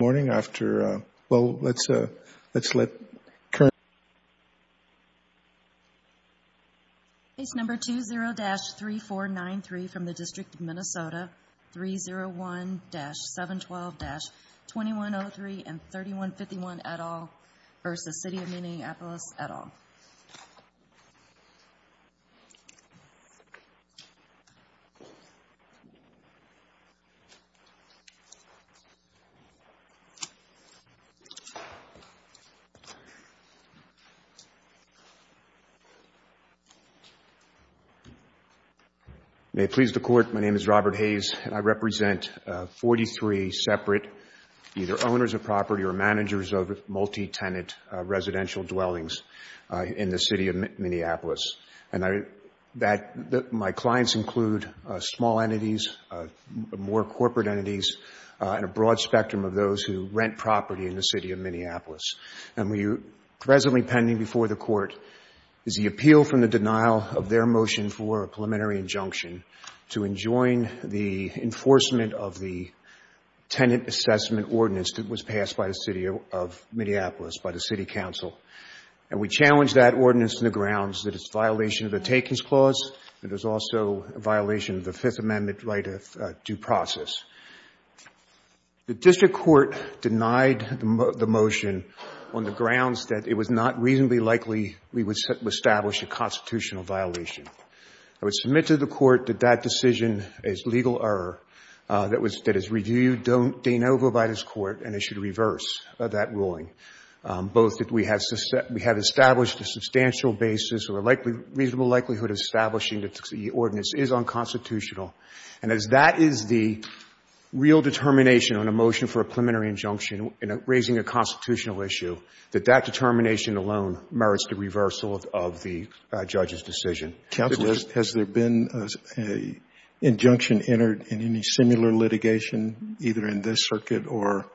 Morning after, well, let's, let's let current It's number 20-3493 from the District of Minnesota 301-712-2103 and 3151 at all versus City of Minneapolis at all May it please the Court, my name is Robert Hayes and I represent 43 separate either owners of property or managers of multi-tenant residential dwellings in the City of Minneapolis. And I, that, my clients include small entities, more corporate entities and a broad spectrum of those who rent property in the City of Minneapolis. And we are presently pending before the Court is the appeal from the denial of their motion for a preliminary injunction to enjoin the enforcement of the tenant assessment ordinance that was passed by the City of Minneapolis, by the City Council. And we challenge that ordinance in the grounds that it's a violation of the Takings Clause and is also a violation of the Fifth Amendment right of due process. The District Court denied the motion on the grounds that it was not reasonably likely we would establish a constitutional violation. I would submit to the Court that that decision is legal error, that is reviewed de novo by this Court and it should reverse that ruling. Both that we have established a substantial basis or a reasonable likelihood of establishing that the ordinance is unconstitutional. And as that is the real determination on a motion for a preliminary injunction in raising a constitutional issue, that that determination alone merits the reversal of the judge's decision. Counsel, has there been an injunction entered in any similar litigation, either in this circuit or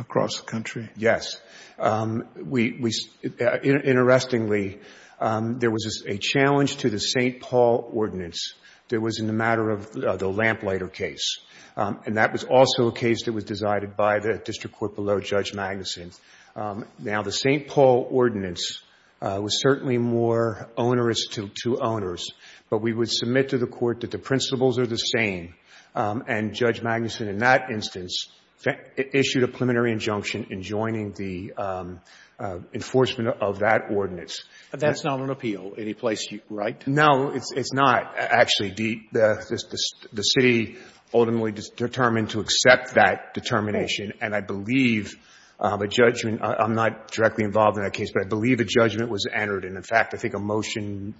across the country? Yes. Interestingly, there was a challenge to the St. Paul ordinance that was in the matter of the Lamplighter case. And that was also a case that was decided by the District Court below Judge Magnuson. Now, the St. Paul ordinance was certainly more onerous to owners, but we would submit to the Court that the principles are the same. And Judge Magnuson in that instance issued a preliminary injunction in joining the enforcement of that ordinance. But that's not an appeal any place you write? No, it's not, actually. The city ultimately determined to accept that determination. And I believe a judgment, I'm not directly involved in that case, but I believe a judgment was entered. And in fact, I think a motion,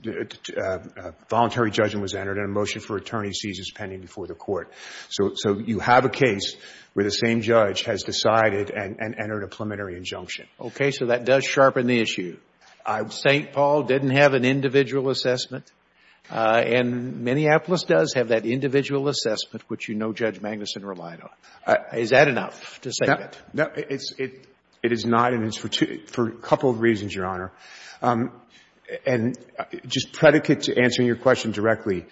a voluntary judgment was entered and a motion for attorney's seizure is pending before the Court. So you have a case where the same judge has decided and entered a preliminary injunction. Okay. So that does sharpen the issue. St. Paul didn't have an individual assessment. And Minneapolis does have that individual assessment, which you know Judge Magnuson relied on. Is that enough to say that? No, it's not. And it's for a couple of reasons, Your Honor. And just predicate to answering your question directly,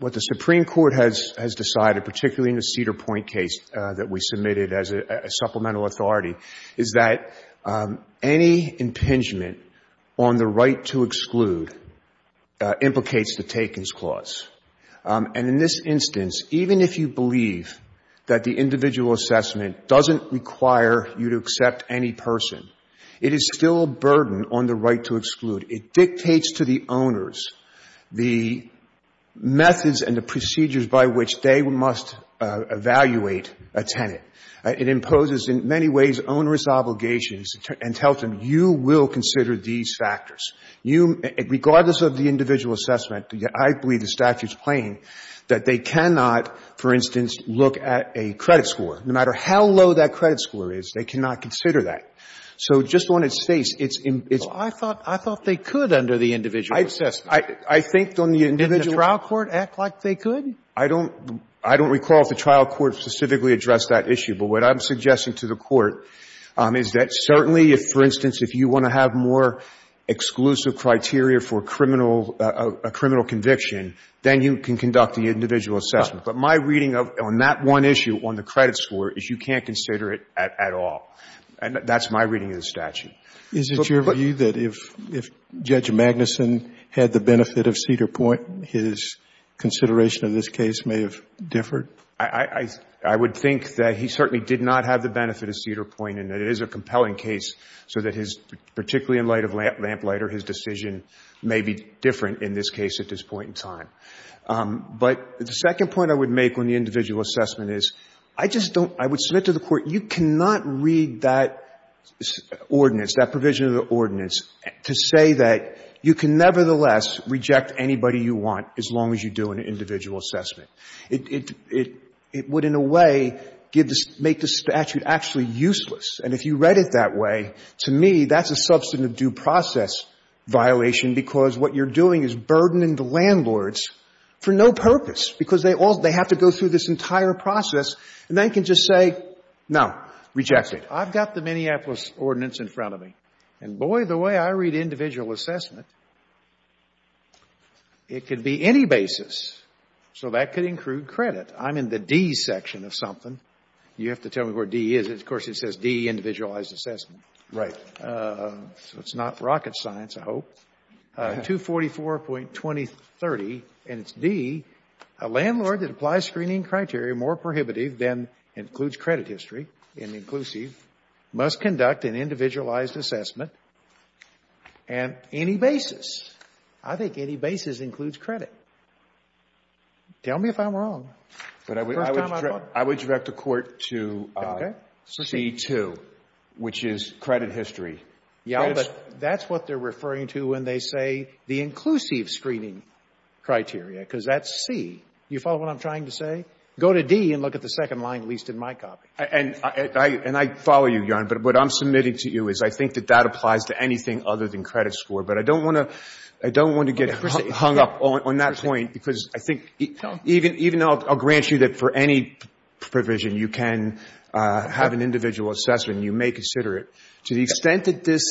what the Supreme Court has decided, particularly in the Cedar Point case that we submitted as a supplemental authority, is that any impingement on the right to exclude implicates the Takens Clause. And in this instance, even if you believe that the individual assessment doesn't require you to accept any person, it is still a burden on the right to exclude. It dictates to the owners the methods and the procedures by which they must evaluate a tenant. It imposes in many ways onerous obligations and tells them, you will consider these factors. Regardless of the individual assessment, I believe the statute is plain that they cannot, for instance, look at a credit score. No matter how low that credit score is, they cannot consider that. So just on its face, it's imp— I thought they could under the individual assessment. I think on the individual— Didn't the trial court act like they could? I don't recall if the trial court specifically addressed that issue. But what I'm suggesting to the Court is that certainly, if, for instance, if you want to have more exclusive criteria for a criminal conviction, then you can conduct the individual assessment. But my reading on that one issue on the credit score is you can't consider it at all. That's my reading of the statute. Is it your view that if Judge Magnuson had the benefit of Cedar Point, his consideration of this case may have differed? I would think that he certainly did not have the benefit of Cedar Point and that it is a compelling case so that his, particularly in light of Lamplighter, his decision may be different in this case at this point in time. But the second point I would make on the individual assessment is I just don't — I would submit to the Court, you cannot read that ordinance, that provision of the ordinance, to say that you can nevertheless reject anybody you want as long as you do an individual assessment. It would, in a way, make the statute actually useless. And if you read it that way, to me, that's a substantive due process violation because what you're doing is burdening the landlords for no purpose because they have to go through this entire process and they can just say, no, reject it. I've got the Minneapolis ordinance in front of me. And boy, the way I read individual assessment, it could be any basis. So that could include credit. I'm in the D section of something. You have to tell me where D is. Of course, it says D, individualized assessment. Right. So it's not rocket science, I hope. 244.2030, and it's D, a landlord that applies screening criteria more prohibitive than includes credit history in the inclusive must conduct an individualized assessment on any basis. I think any basis includes credit. Tell me if I'm wrong. The first time I thought — I would direct the Court to — Okay. C2, which is credit history. Yeah, but that's what they're referring to when they say the inclusive screening criteria, because that's C. You follow what I'm trying to say? Go to D and look at the second line, at least in my copy. And I follow you, Your Honor, but what I'm submitting to you is I think that that applies to anything other than credit score, but I don't want to get hung up on that point because I think even though I'll grant you that for any provision you can have an individual assessment, you may consider it. To the extent that this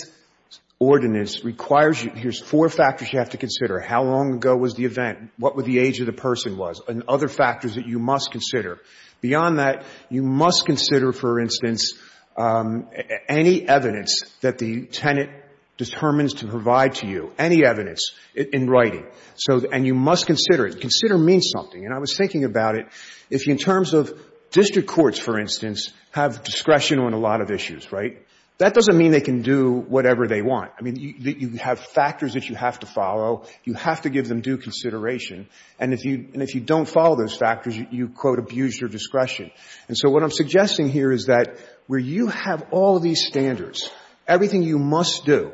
ordinance requires you — here's four factors you have to consider. How long ago was the event? What would the age of the person was? And other factors that you must consider. Beyond that, you must consider, for instance, any evidence that the tenant determines to provide to you, any evidence in writing. So — and you must consider it. Consider means something. And I was thinking about it. If you, in terms of district courts, for instance, have discretion on a lot of issues, right, that doesn't mean they can do whatever they want. I mean, you have factors that you have to follow. You have to give them due consideration. And if you don't follow those factors, you, quote, abuse your discretion. And so what I'm suggesting here is that where you have all of these standards, everything you must do,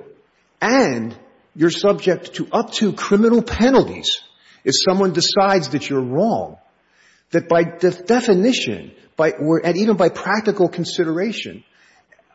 and you're subject to up to criminal penalties if someone decides that you're wrong, that by definition, and even by practical consideration,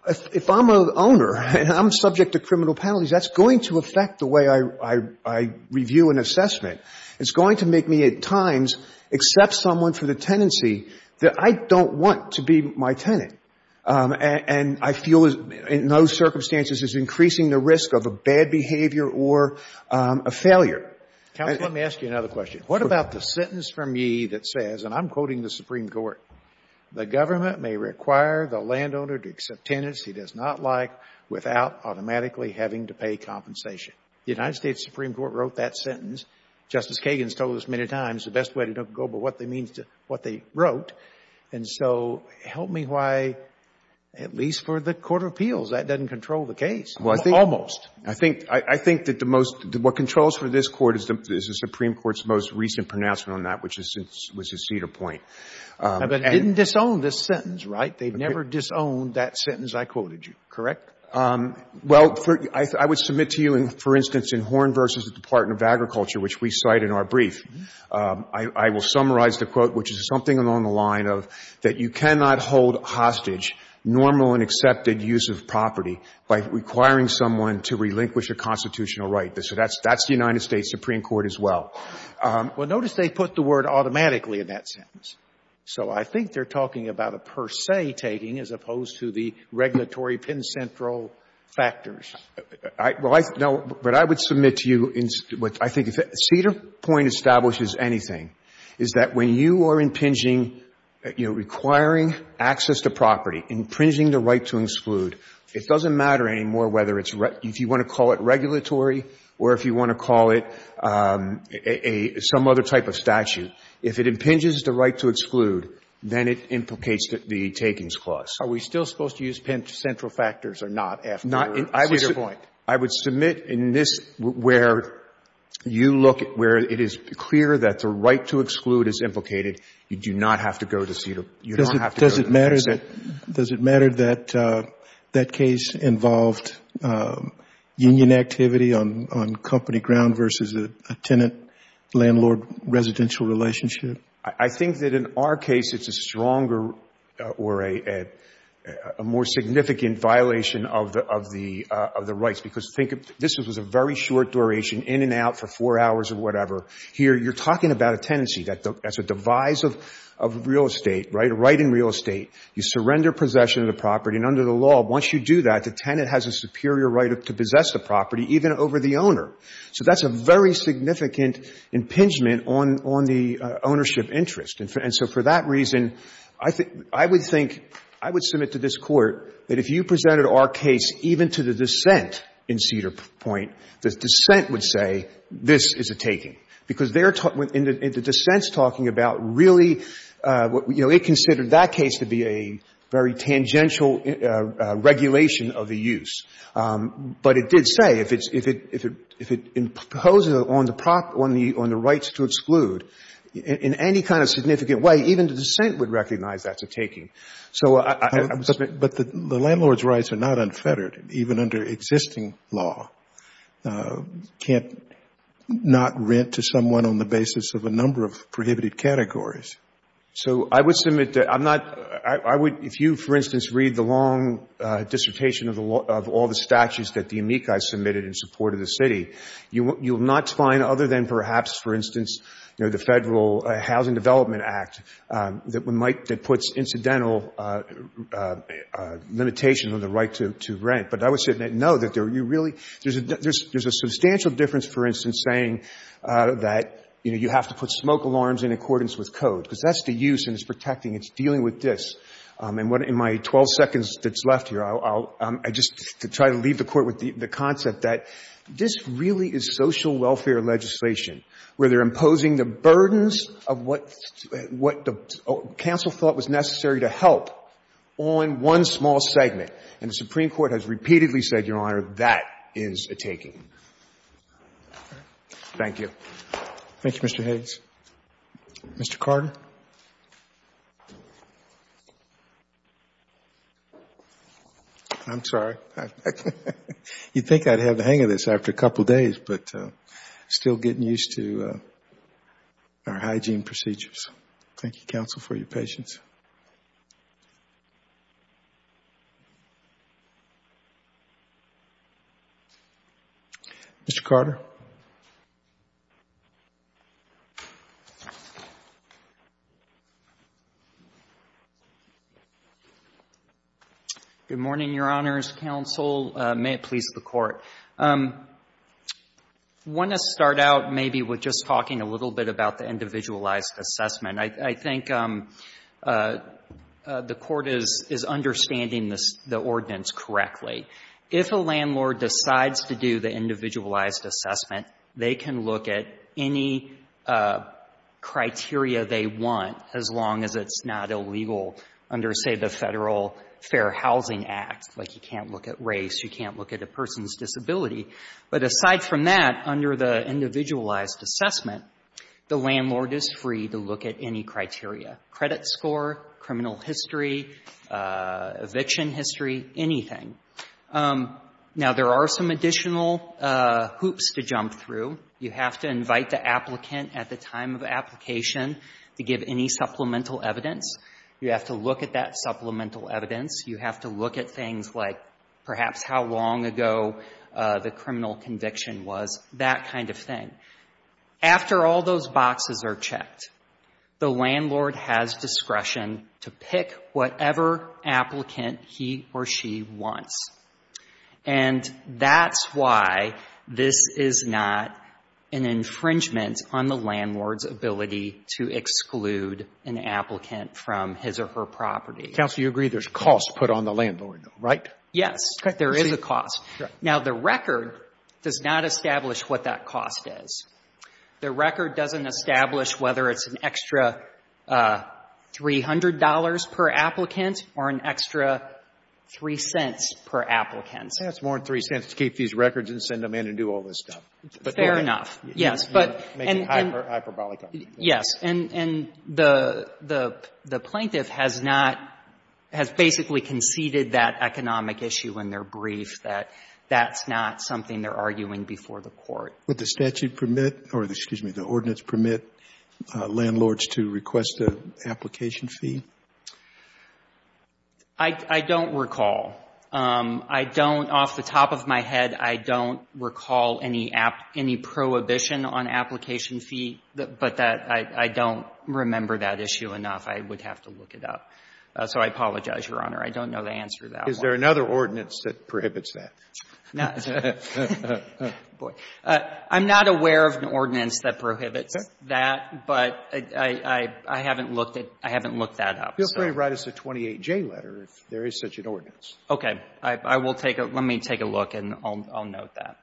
if I'm an owner and I'm subject to criminal penalties, that's going to affect the way I review an assessment. It's going to make me at times accept someone for the tenancy that I don't want to be my tenant. And I feel, in those circumstances, it's increasing the risk of a bad behavior or a failure. Counsel, let me ask you another question. What about the sentence from ye that says, and I'm quoting the Supreme Court, the government may require the landowner to accept tenants he does not like without automatically having to pay compensation? The United States Supreme Court wrote that sentence. Justice Kagan's told us many times the best way to go about what they wrote. And so, help me why, at least for the Court of Appeals, that doesn't control the case, almost. I think that what controls for this Court is the Supreme Court's most recent pronouncement on that, which was a cedar point. But it didn't disown this sentence, right? They've never disowned that sentence I quoted you, correct? Well, I would submit to you, for instance, in Horn v. the Department of Agriculture, which we cite in our brief, I will summarize the quote, which is something along the line of that you cannot hold hostage normal and accepted use of property by requiring someone to relinquish a constitutional right. So that's the United States Supreme Court as well. Well, notice they put the word automatically in that sentence. So I think they're talking about a per se taking as opposed to the regulatory pin central factors. Well, I know, but I would submit to you, I think if a cedar point establishes anything, is that when you are impinging, you know, requiring access to property, impinging the right to exclude, it doesn't matter anymore whether it's you want to call it regulatory or if you want to call it some other type of statute. If it impinges the right to exclude, then it implicates the takings clause. Are we still supposed to use central factors or not after a cedar point? I would submit in this where you look at where it is clear that the right to exclude is implicated. You do not have to go to cedar. You don't have to. Does it matter that that case involved union activity on company ground versus a tenant-landlord-residential relationship? I think that in our case, it's a stronger or a more significant violation of the rights. This was a very short duration, in and out for four hours or whatever. Here, you're talking about a tenancy that's a devise of real estate, right? Right in real estate. You surrender possession of the property. And under the law, once you do that, the tenant has a superior right to possess the property even over the owner. So that's a very significant impingement on the ownership interest. And so for that reason, I would submit to this Court that if you presented our case even to the dissent in cedar point, the dissent would say, this is a taking. Because they're in the dissents talking about really, you know, they considered that case to be a very tangential regulation of the use. But it did say if it imposes on the rights to exclude in any kind of significant way, even the dissent would recognize that's a taking. So I would submit. But the landlord's rights are not unfettered, even under existing law. Can't not rent to someone on the basis of a number of prohibited categories. So I would submit that I'm not, I would, if you, for instance, read the long dissertation of all the statutes that the amici submitted in support of the city, you will not find other than perhaps, for instance, you know, the Federal Housing Development Act that puts incidental limitation on the right to rent. But I would submit, no, that you really, there's a substantial difference, for instance, saying that, you know, you have to put smoke alarms in accordance with code. Because that's the use and it's protecting. It's dealing with this. And in my 12 seconds that's left here, I'll just try to leave the Court with the concept that this really is social welfare legislation, where they're imposing the burdens of what the council thought was necessary to help on one small segment. And the Supreme Court has repeatedly said, Your Honor, that is a taking. Thank you. Thank you, Mr. Hayes. Mr. Carter? I'm sorry. You'd think I'd have the hang of this after a couple of days, but still getting used to our hygiene procedures. Thank you, counsel, for your patience. Mr. Carter? Good morning, Your Honors, counsel. May it please the Court. I want to start out maybe with just talking a little bit about the individualized assessment. I think the Court is understanding the ordinance correctly. If a landlord decides to do the individualized assessment, they can look at any criteria they want, as long as it's not illegal under, say, the Federal Fair Housing Act. Like, you can't look at race. You can't look at a person's disability. But aside from that, under the individualized assessment, the landlord is free to look at any criteria, credit score, criminal history, eviction history, anything. Now, there are some additional hoops to jump through. You have to invite the applicant at the time of application to give any supplemental evidence. You have to look at that supplemental evidence. You have to look at things like, perhaps, how long ago the criminal conviction was, that kind of thing. After all those boxes are checked, the landlord has discretion to pick whatever applicant he or she wants. And that's why this is not an infringement on the landlord's ability to exclude an applicant from his or her property. Counsel, you agree there's cost put on the landlord, right? Yes. There is a cost. Now, the record does not establish what that cost is. The record doesn't establish whether it's an extra $300 per applicant or an extra 3 cents per applicant. That's more than 3 cents to keep these records and send them in and do all this stuff. Fair enough. Yes. And the plaintiff has not, has basically conceded that economic issue in their brief, that that's not something they're arguing before the court. Would the statute permit, or excuse me, the ordinance permit landlords to request an application fee? I don't recall. I don't, off the top of my head, I don't recall any prohibition on application fee, but I don't remember that issue enough. I would have to look it up. So I apologize, Your Honor. I don't know the answer to that one. Is there another ordinance that prohibits that? No. I'm not aware of an ordinance that prohibits that, but I haven't looked that up. Feel free to write us a 28J letter if there is such an ordinance. Okay. I will take a, let me take a look and I'll note that.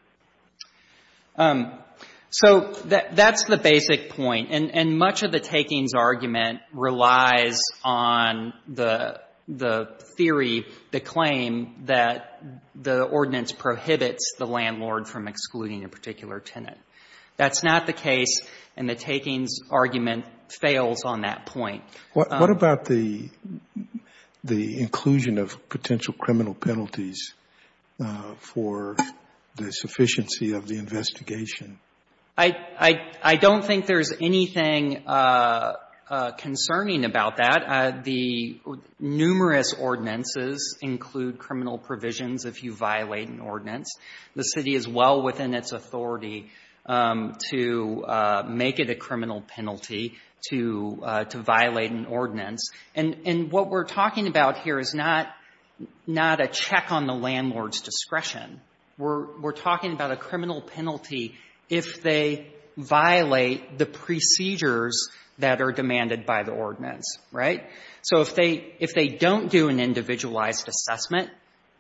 So that's the basic point. And much of the takings argument relies on the theory, the claim that the ordinance prohibits the landlord from excluding a particular tenant. That's not the case, and the takings argument fails on that point. What about the inclusion of potential criminal penalties for the sufficiency of the investigation? I don't think there's anything concerning about that. The numerous ordinances include criminal provisions if you violate an ordinance. The City is well within its authority to make it a criminal penalty to violate an ordinance. And what we're talking about here is not a check on the landlord's discretion. We're talking about a criminal penalty if they violate the procedures that are demanded by the ordinance, right? So if they don't do an individualized assessment,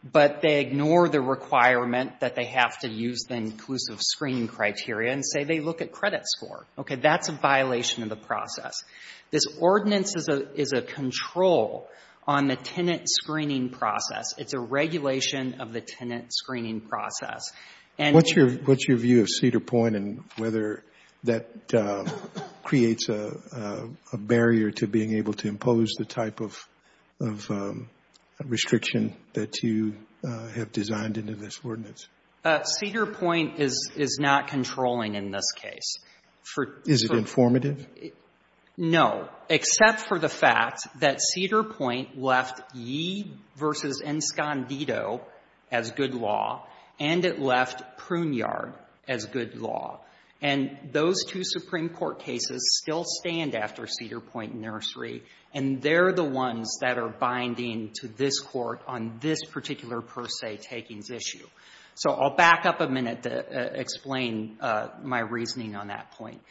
but they ignore the requirement that they have to use the inclusive screening criteria and say they look at credit score, okay, that's a violation of the process. This ordinance is a control on the tenant screening process. It's a regulation of the tenant screening process. And what's your view of Cedar Point and whether that creates a barrier to being able to impose the type of restriction that you have designed into this ordinance? Cedar Point is not controlling in this case. Is it informative? No, except for the fact that Cedar Point left Yee v. Enscondido as good law, and it left Pruneyard as good law. And those two Supreme Court cases still stand after Cedar Point Nursery, and they're the ones that are binding to this Court on this particular per se takings issue. So I'll back up a minute to explain my reasoning on that point.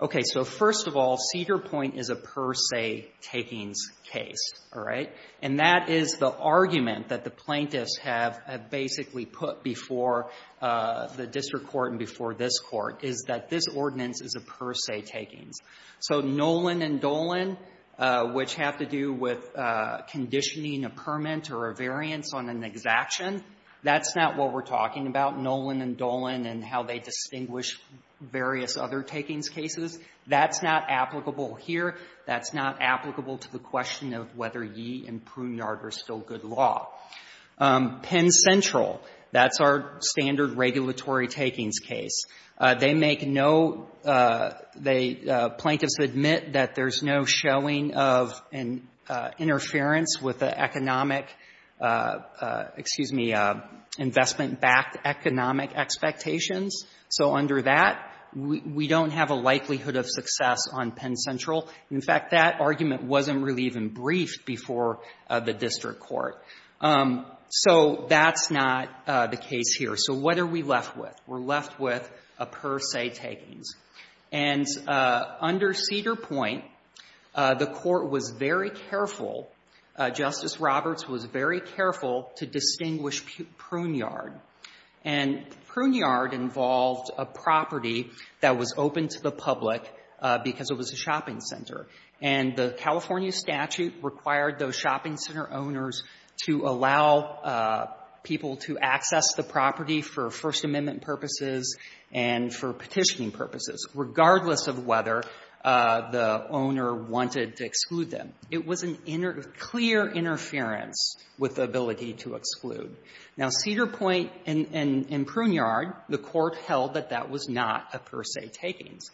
Okay. So first of all, Cedar Point is a per se takings case, all right? And that is the argument that the plaintiffs have basically put before the district court and before this court is that this ordinance is a per se takings. So Nolan and Dolan, which have to do with conditioning a permit or a variance on an exaction, that's not what we're talking about. Nolan and Dolan and how they distinguish various other takings cases, that's not applicable here. That's not applicable to the question of whether Yee and Pruneyard are still good law. Penn Central, that's our standard regulatory takings case. They make no — they — plaintiffs admit that there's no showing of an interference with the economic — excuse me, investment-backed economic expectations. So under that, we don't have a likelihood of success on Penn Central. In fact, that argument wasn't really even briefed before the district court. So that's not the case here. So what are we left with? We're left with a per se takings. And under Cedar Point, the court was very careful — Justice Roberts was very careful to distinguish Pruneyard. And Pruneyard involved a property that was open to the public because it was a shopping center. And the California statute required those shopping center owners to allow people to access the property for First Amendment purposes and for petitioning purposes, regardless of whether the owner wanted to exclude them. It was a clear interference with the ability to exclude. Now, Cedar Point and Pruneyard, the court held that that was not a per se takings.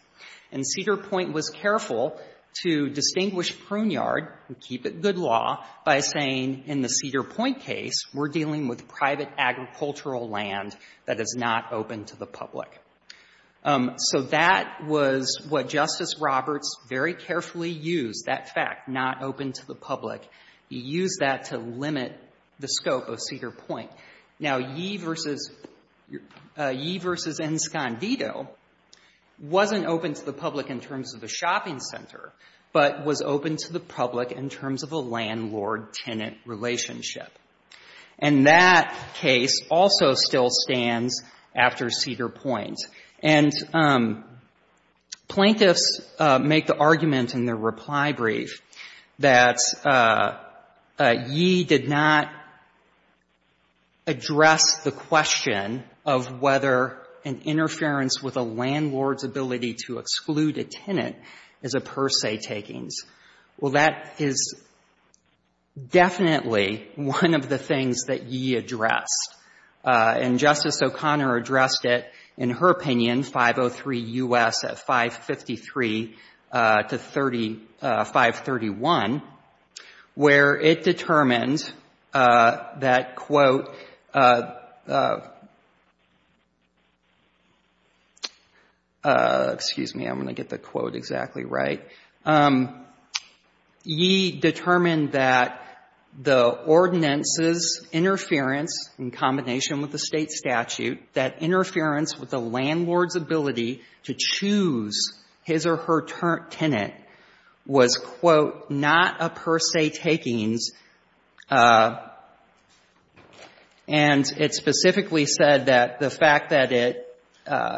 And Cedar Point was careful to distinguish Pruneyard and keep it good law by saying in the Cedar Point case, we're dealing with private agricultural land that is not open to the public. So that was what Justice Roberts very carefully used, that fact, not open to the public. He used that to limit the scope of Cedar Point. Now, Yee v. Enscondido wasn't open to the public in terms of the shopping center, but was open to the public in terms of a landlord-tenant relationship. And that case also still stands after Cedar Point. And plaintiffs make the argument in their reply brief that Yee did not address the question of whether an interference with a landlord's ability to exclude a tenant is a per se takings. Well, that is definitely one of the things that Yee addressed, and Justice O'Connor addressed it in her opinion, 503 U.S. at 553 to 531, where it determined that, quote, excuse me, I'm going to get the quote exactly right. Yee determined that the ordinance's interference in combination with the state statute that interference with a landlord's ability to choose his or her tenant was, quote, not a per se takings. And it specifically said that the fact that it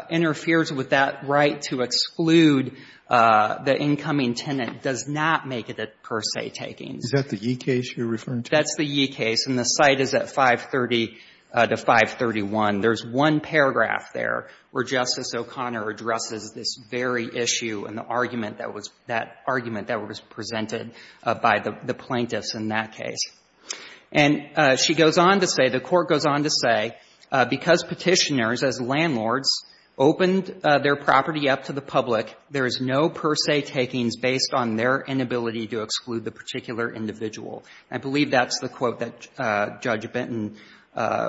interferes with that right to exclude the incoming tenant does not make it a per se takings. Is that the Yee case you're referring to? That's the Yee case. And the site is at 530 to 531. There's one paragraph there where Justice O'Connor addresses this very issue and the argument that was — that argument that was presented by the plaintiffs in that case. And she goes on to say, the Court goes on to say, because Petitioners, as landlords, opened their property up to the public, there is no per se takings based on their inability to exclude the particular individual. I believe that's the quote that Judge Benton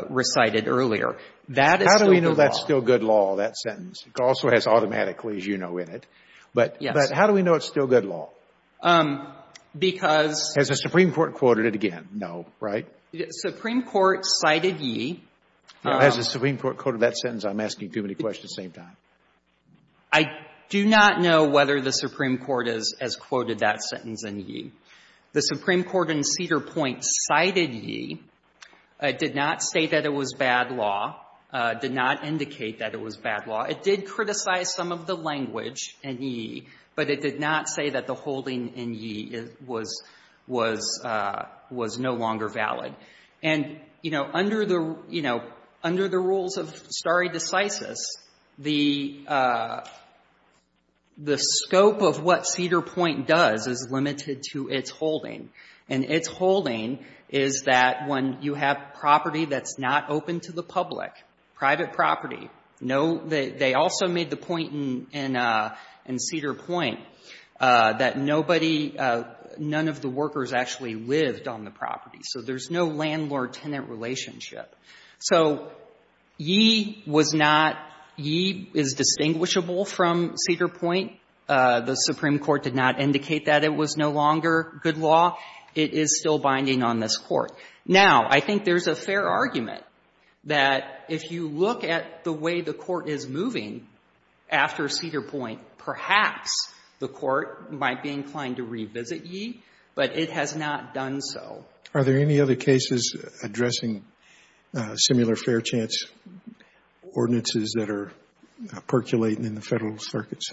recited earlier. That is still good law. How do we know that's still good law, that sentence? It also has automatically, as you know, in it. But how do we know it's still good law? Because — Has the Supreme Court quoted it again? No, right? Supreme Court cited Yee. Has the Supreme Court quoted that sentence? I'm asking too many questions at the same time. I do not know whether the Supreme Court has quoted that sentence in Yee. The Supreme Court in Cedar Point cited Yee, did not say that it was bad law, did not indicate that it was bad law. It did criticize some of the language in Yee, but it did not say that the holding in Yee was — was — was no longer valid. And, you know, under the — you know, under the rules of stare decisis, the — the holding is that when you have property that's not open to the public, private property, no — they also made the point in Cedar Point that nobody — none of the workers actually lived on the property. So there's no landlord-tenant relationship. So Yee was not — Yee is distinguishable from Cedar Point. The Supreme Court did not indicate that it was no longer good law. It is still binding on this Court. Now, I think there's a fair argument that if you look at the way the Court is moving after Cedar Point, perhaps the Court might be inclined to revisit Yee, but it has not done so. Are there any other cases addressing similar fair chance ordinances that are percolating in the Federal circuits?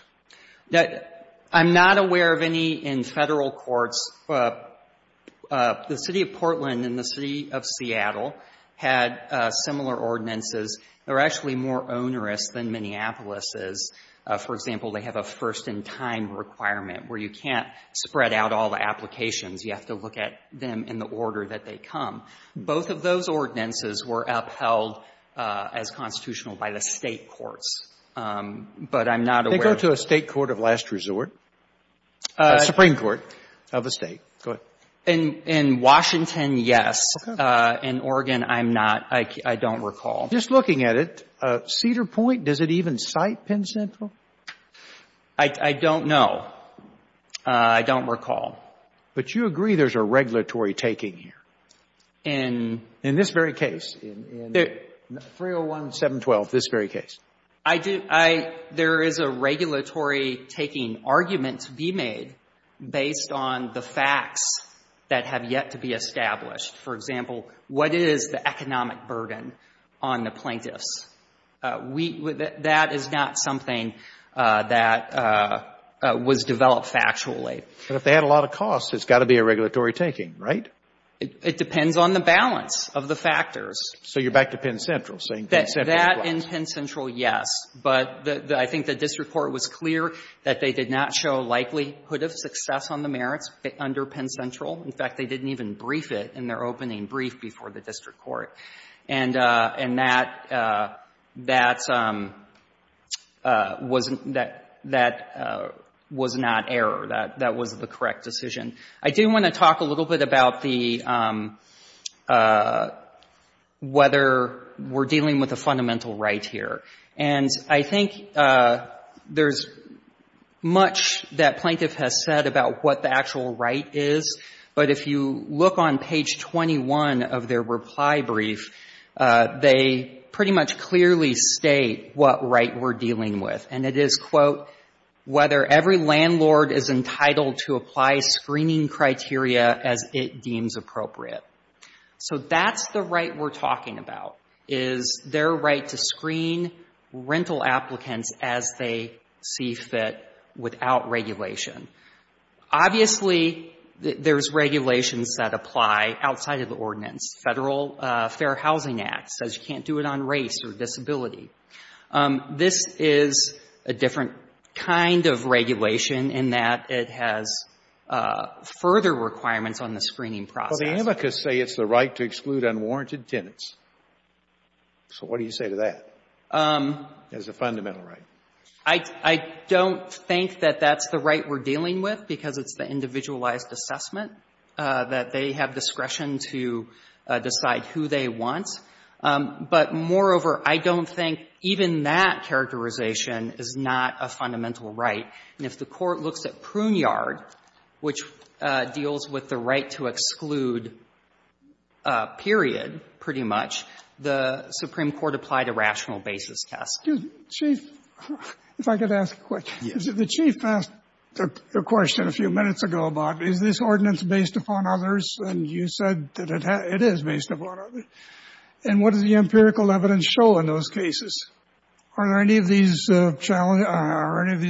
That — I'm not aware of any in Federal courts. The City of Portland and the City of Seattle had similar ordinances. They're actually more onerous than Minneapolis's. For example, they have a first-in-time requirement where you can't spread out all the applications. You have to look at them in the order that they come. Both of those ordinances were upheld as constitutional by the State courts. But I'm not aware of — They go to a State court of last resort, a Supreme Court of a State. Go ahead. In Washington, yes. Okay. In Oregon, I'm not. I don't recall. Just looking at it, Cedar Point, does it even cite Penn Central? I don't know. I don't recall. But you agree there's a regulatory taking here. In — In this very case, in 301-712, this very case. I do — I — there is a regulatory taking argument to be made based on the facts that have yet to be established. For example, what is the economic burden on the plaintiffs? We — that is not something that was developed factually. But if they had a lot of costs, it's got to be a regulatory taking, right? It depends on the balance of the factors. So you're back to Penn Central, saying Penn Central applies. That and Penn Central, yes. But I think the district court was clear that they did not show a likelihood of success on the merits under Penn Central. In fact, they didn't even brief it in their opening brief before the district court. And that — that was not error. That was the correct decision. I do want to talk a little bit about the — whether we're dealing with a fundamental right here. And I think there's much that plaintiff has said about what the actual right is. But if you look on page 21 of their reply brief, they pretty much clearly state what right we're dealing with. And it is, quote, whether every landlord is entitled to apply screening criteria as it deems appropriate. So that's the right we're talking about, is their right to screen rental applicants as they see fit without regulation. Obviously, there's regulations that apply outside of the ordinance. Federal Fair Housing Act says you can't do it on race or disability. This is a different kind of regulation in that it has further requirements on the screening process. Well, the amicus say it's the right to exclude unwarranted tenants. So what do you say to that as a fundamental right? I don't think that that's the right we're dealing with, because it's the individualized assessment, that they have discretion to decide who they want. But moreover, I don't think even that characterization is not a fundamental right. And if the Court looks at Pruneyard, which deals with the right to exclude a period, pretty much, the Supreme Court applied a rational basis test. Scalia, if I could ask a question. The Chief asked the question a few minutes ago about is this ordinance based upon others, and you said that it is based upon others. And what does the empirical evidence show in those cases? Are any of these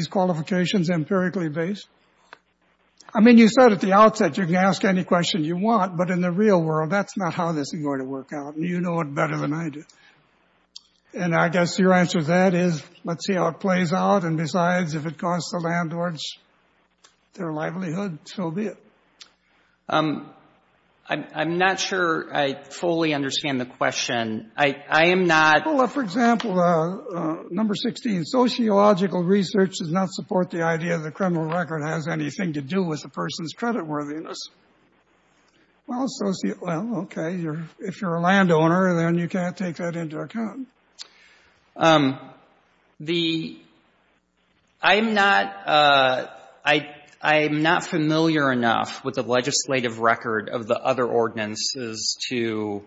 qualifications empirically based? I mean, you said at the outset you can ask any question you want, but in the real world, that's not how this is going to work out. And you know it better than I do. And I guess your answer to that is let's see how it plays out. And besides, if it costs the landlords their livelihood, so be it. I'm not sure I fully understand the question. I am not — Well, for example, number 16, sociological research does not support the idea that criminal record has anything to do with a person's creditworthiness. Well, okay, if you're a landowner, then you can't take that into account. The — I'm not — I'm not familiar enough with the legislative record of the other ordinances to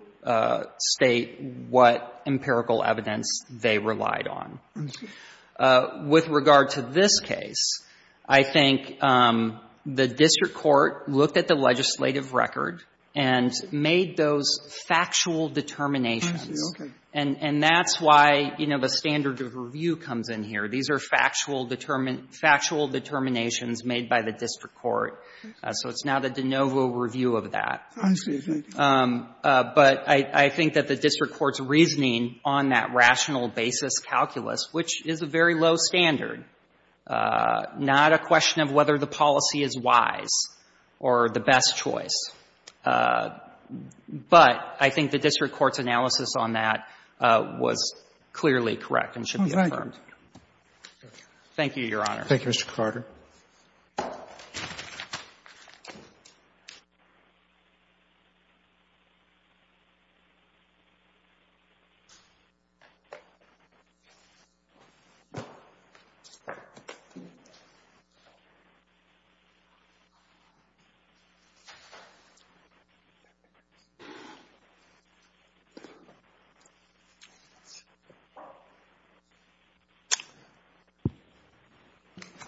state what empirical evidence they relied on. With regard to this case, I think the district court looked at the legislative record and made those factual determinations. Okay. And that's why, you know, the standard of review comes in here. These are factual determinations made by the district court. So it's now the de novo review of that. Oh, I see. But I think that the district court's reasoning on that rational basis calculus, which is a very low standard, not a question of whether the policy is wise or the best choice, but I think the district court's analysis on that was clearly correct and should be affirmed. Thank you, Your Honor. Thank you, Mr. Carter.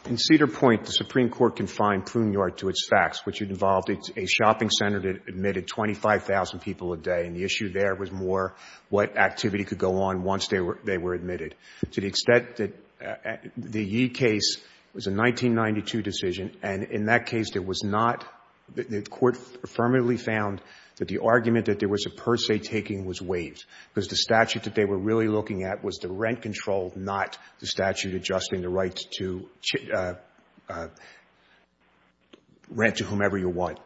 In Cedar Point, the Supreme Court confined Pruneyard to its facts, which involved a shopping center that admitted 25,000 people a day, and the issue there was more what activity could go on once they were — they were admitted. To the extent that the Yee case was a 1992 decision, and in that case, there was not found that the argument that there was a per se taking was waived because the statute that they were really looking at was the rent control, not the statute adjusting the right to rent to whomever you want.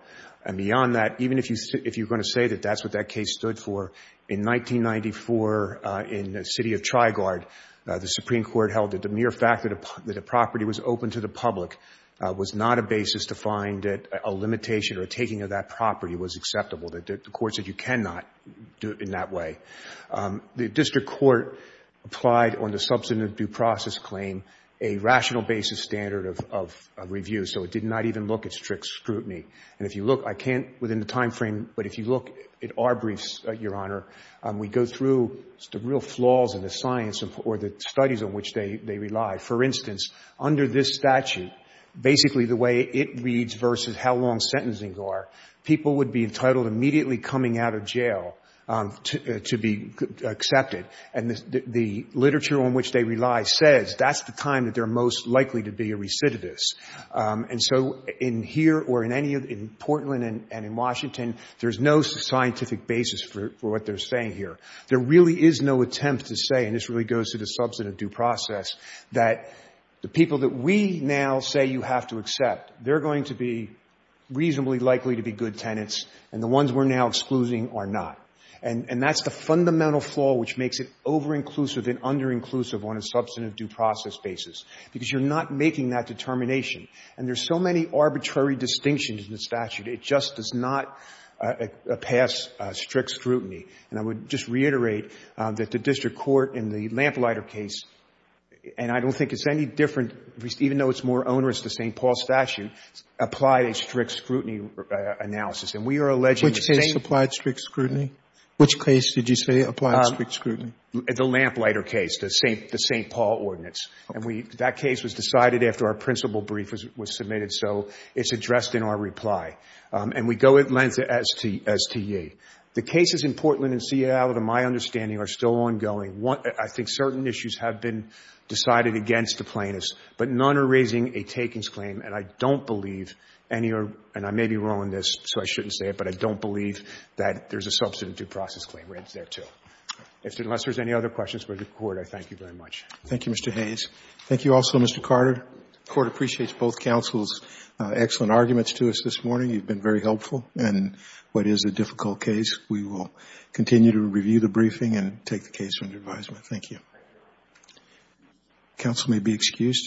And beyond that, even if you're going to say that that's what that case stood for, in 1994 in the city of Triguard, the Supreme Court held that the mere fact that a property was open to the public was not a basis to find that a limitation or a taking of that property was acceptable, that the court said you cannot do it in that way. The district court applied on the substantive due process claim a rational basis standard of review, so it did not even look at strict scrutiny. And if you look — I can't within the timeframe, but if you look at our briefs, Your Honor, we go through the real flaws in the science or the studies on which they rely. For instance, under this statute, basically the way it reads versus how long sentencing are, people would be entitled immediately coming out of jail to be accepted. And the literature on which they rely says that's the time that they're most likely to be a recidivist. And so in here or in any — in Portland and in Washington, there's no scientific basis for what they're saying here. There really is no attempt to say, and this really goes to the substantive due process, that the people that we now say you have to accept, they're going to be reasonably likely to be good tenants, and the ones we're now excluding are not. And that's the fundamental flaw which makes it over-inclusive and under-inclusive on a substantive due process basis, because you're not making that determination. And there's so many arbitrary distinctions in the statute, it just does not pass strict scrutiny. And I would just reiterate that the district court in the Lamplighter case, and I don't think it's any different, even though it's more onerous to the St. Paul statute, applied a strict scrutiny analysis. And we are alleging the same— Which case applied strict scrutiny? Which case did you say applied strict scrutiny? The Lamplighter case, the St. Paul ordinance. And that case was decided after our principal brief was submitted, so it's addressed in our reply. And we go in line to STA. The cases in Portland and Seattle, to my understanding, are still ongoing. I think certain issues have been decided against the plaintiffs, but none are raising a takings claim. And I don't believe any are — and I may be wrong on this, so I shouldn't say it, but I don't believe that there's a substantive due process claim there, too. So unless there's any other questions for the Court, I thank you very much. Roberts. Thank you, Mr. Hayes. Thank you also, Mr. Carter. The Court appreciates both counsel's excellent arguments to us this morning. You've been very helpful in what is a difficult case. We will continue to review the briefing and take the case under advisement. Thank you. Counsel may be excused.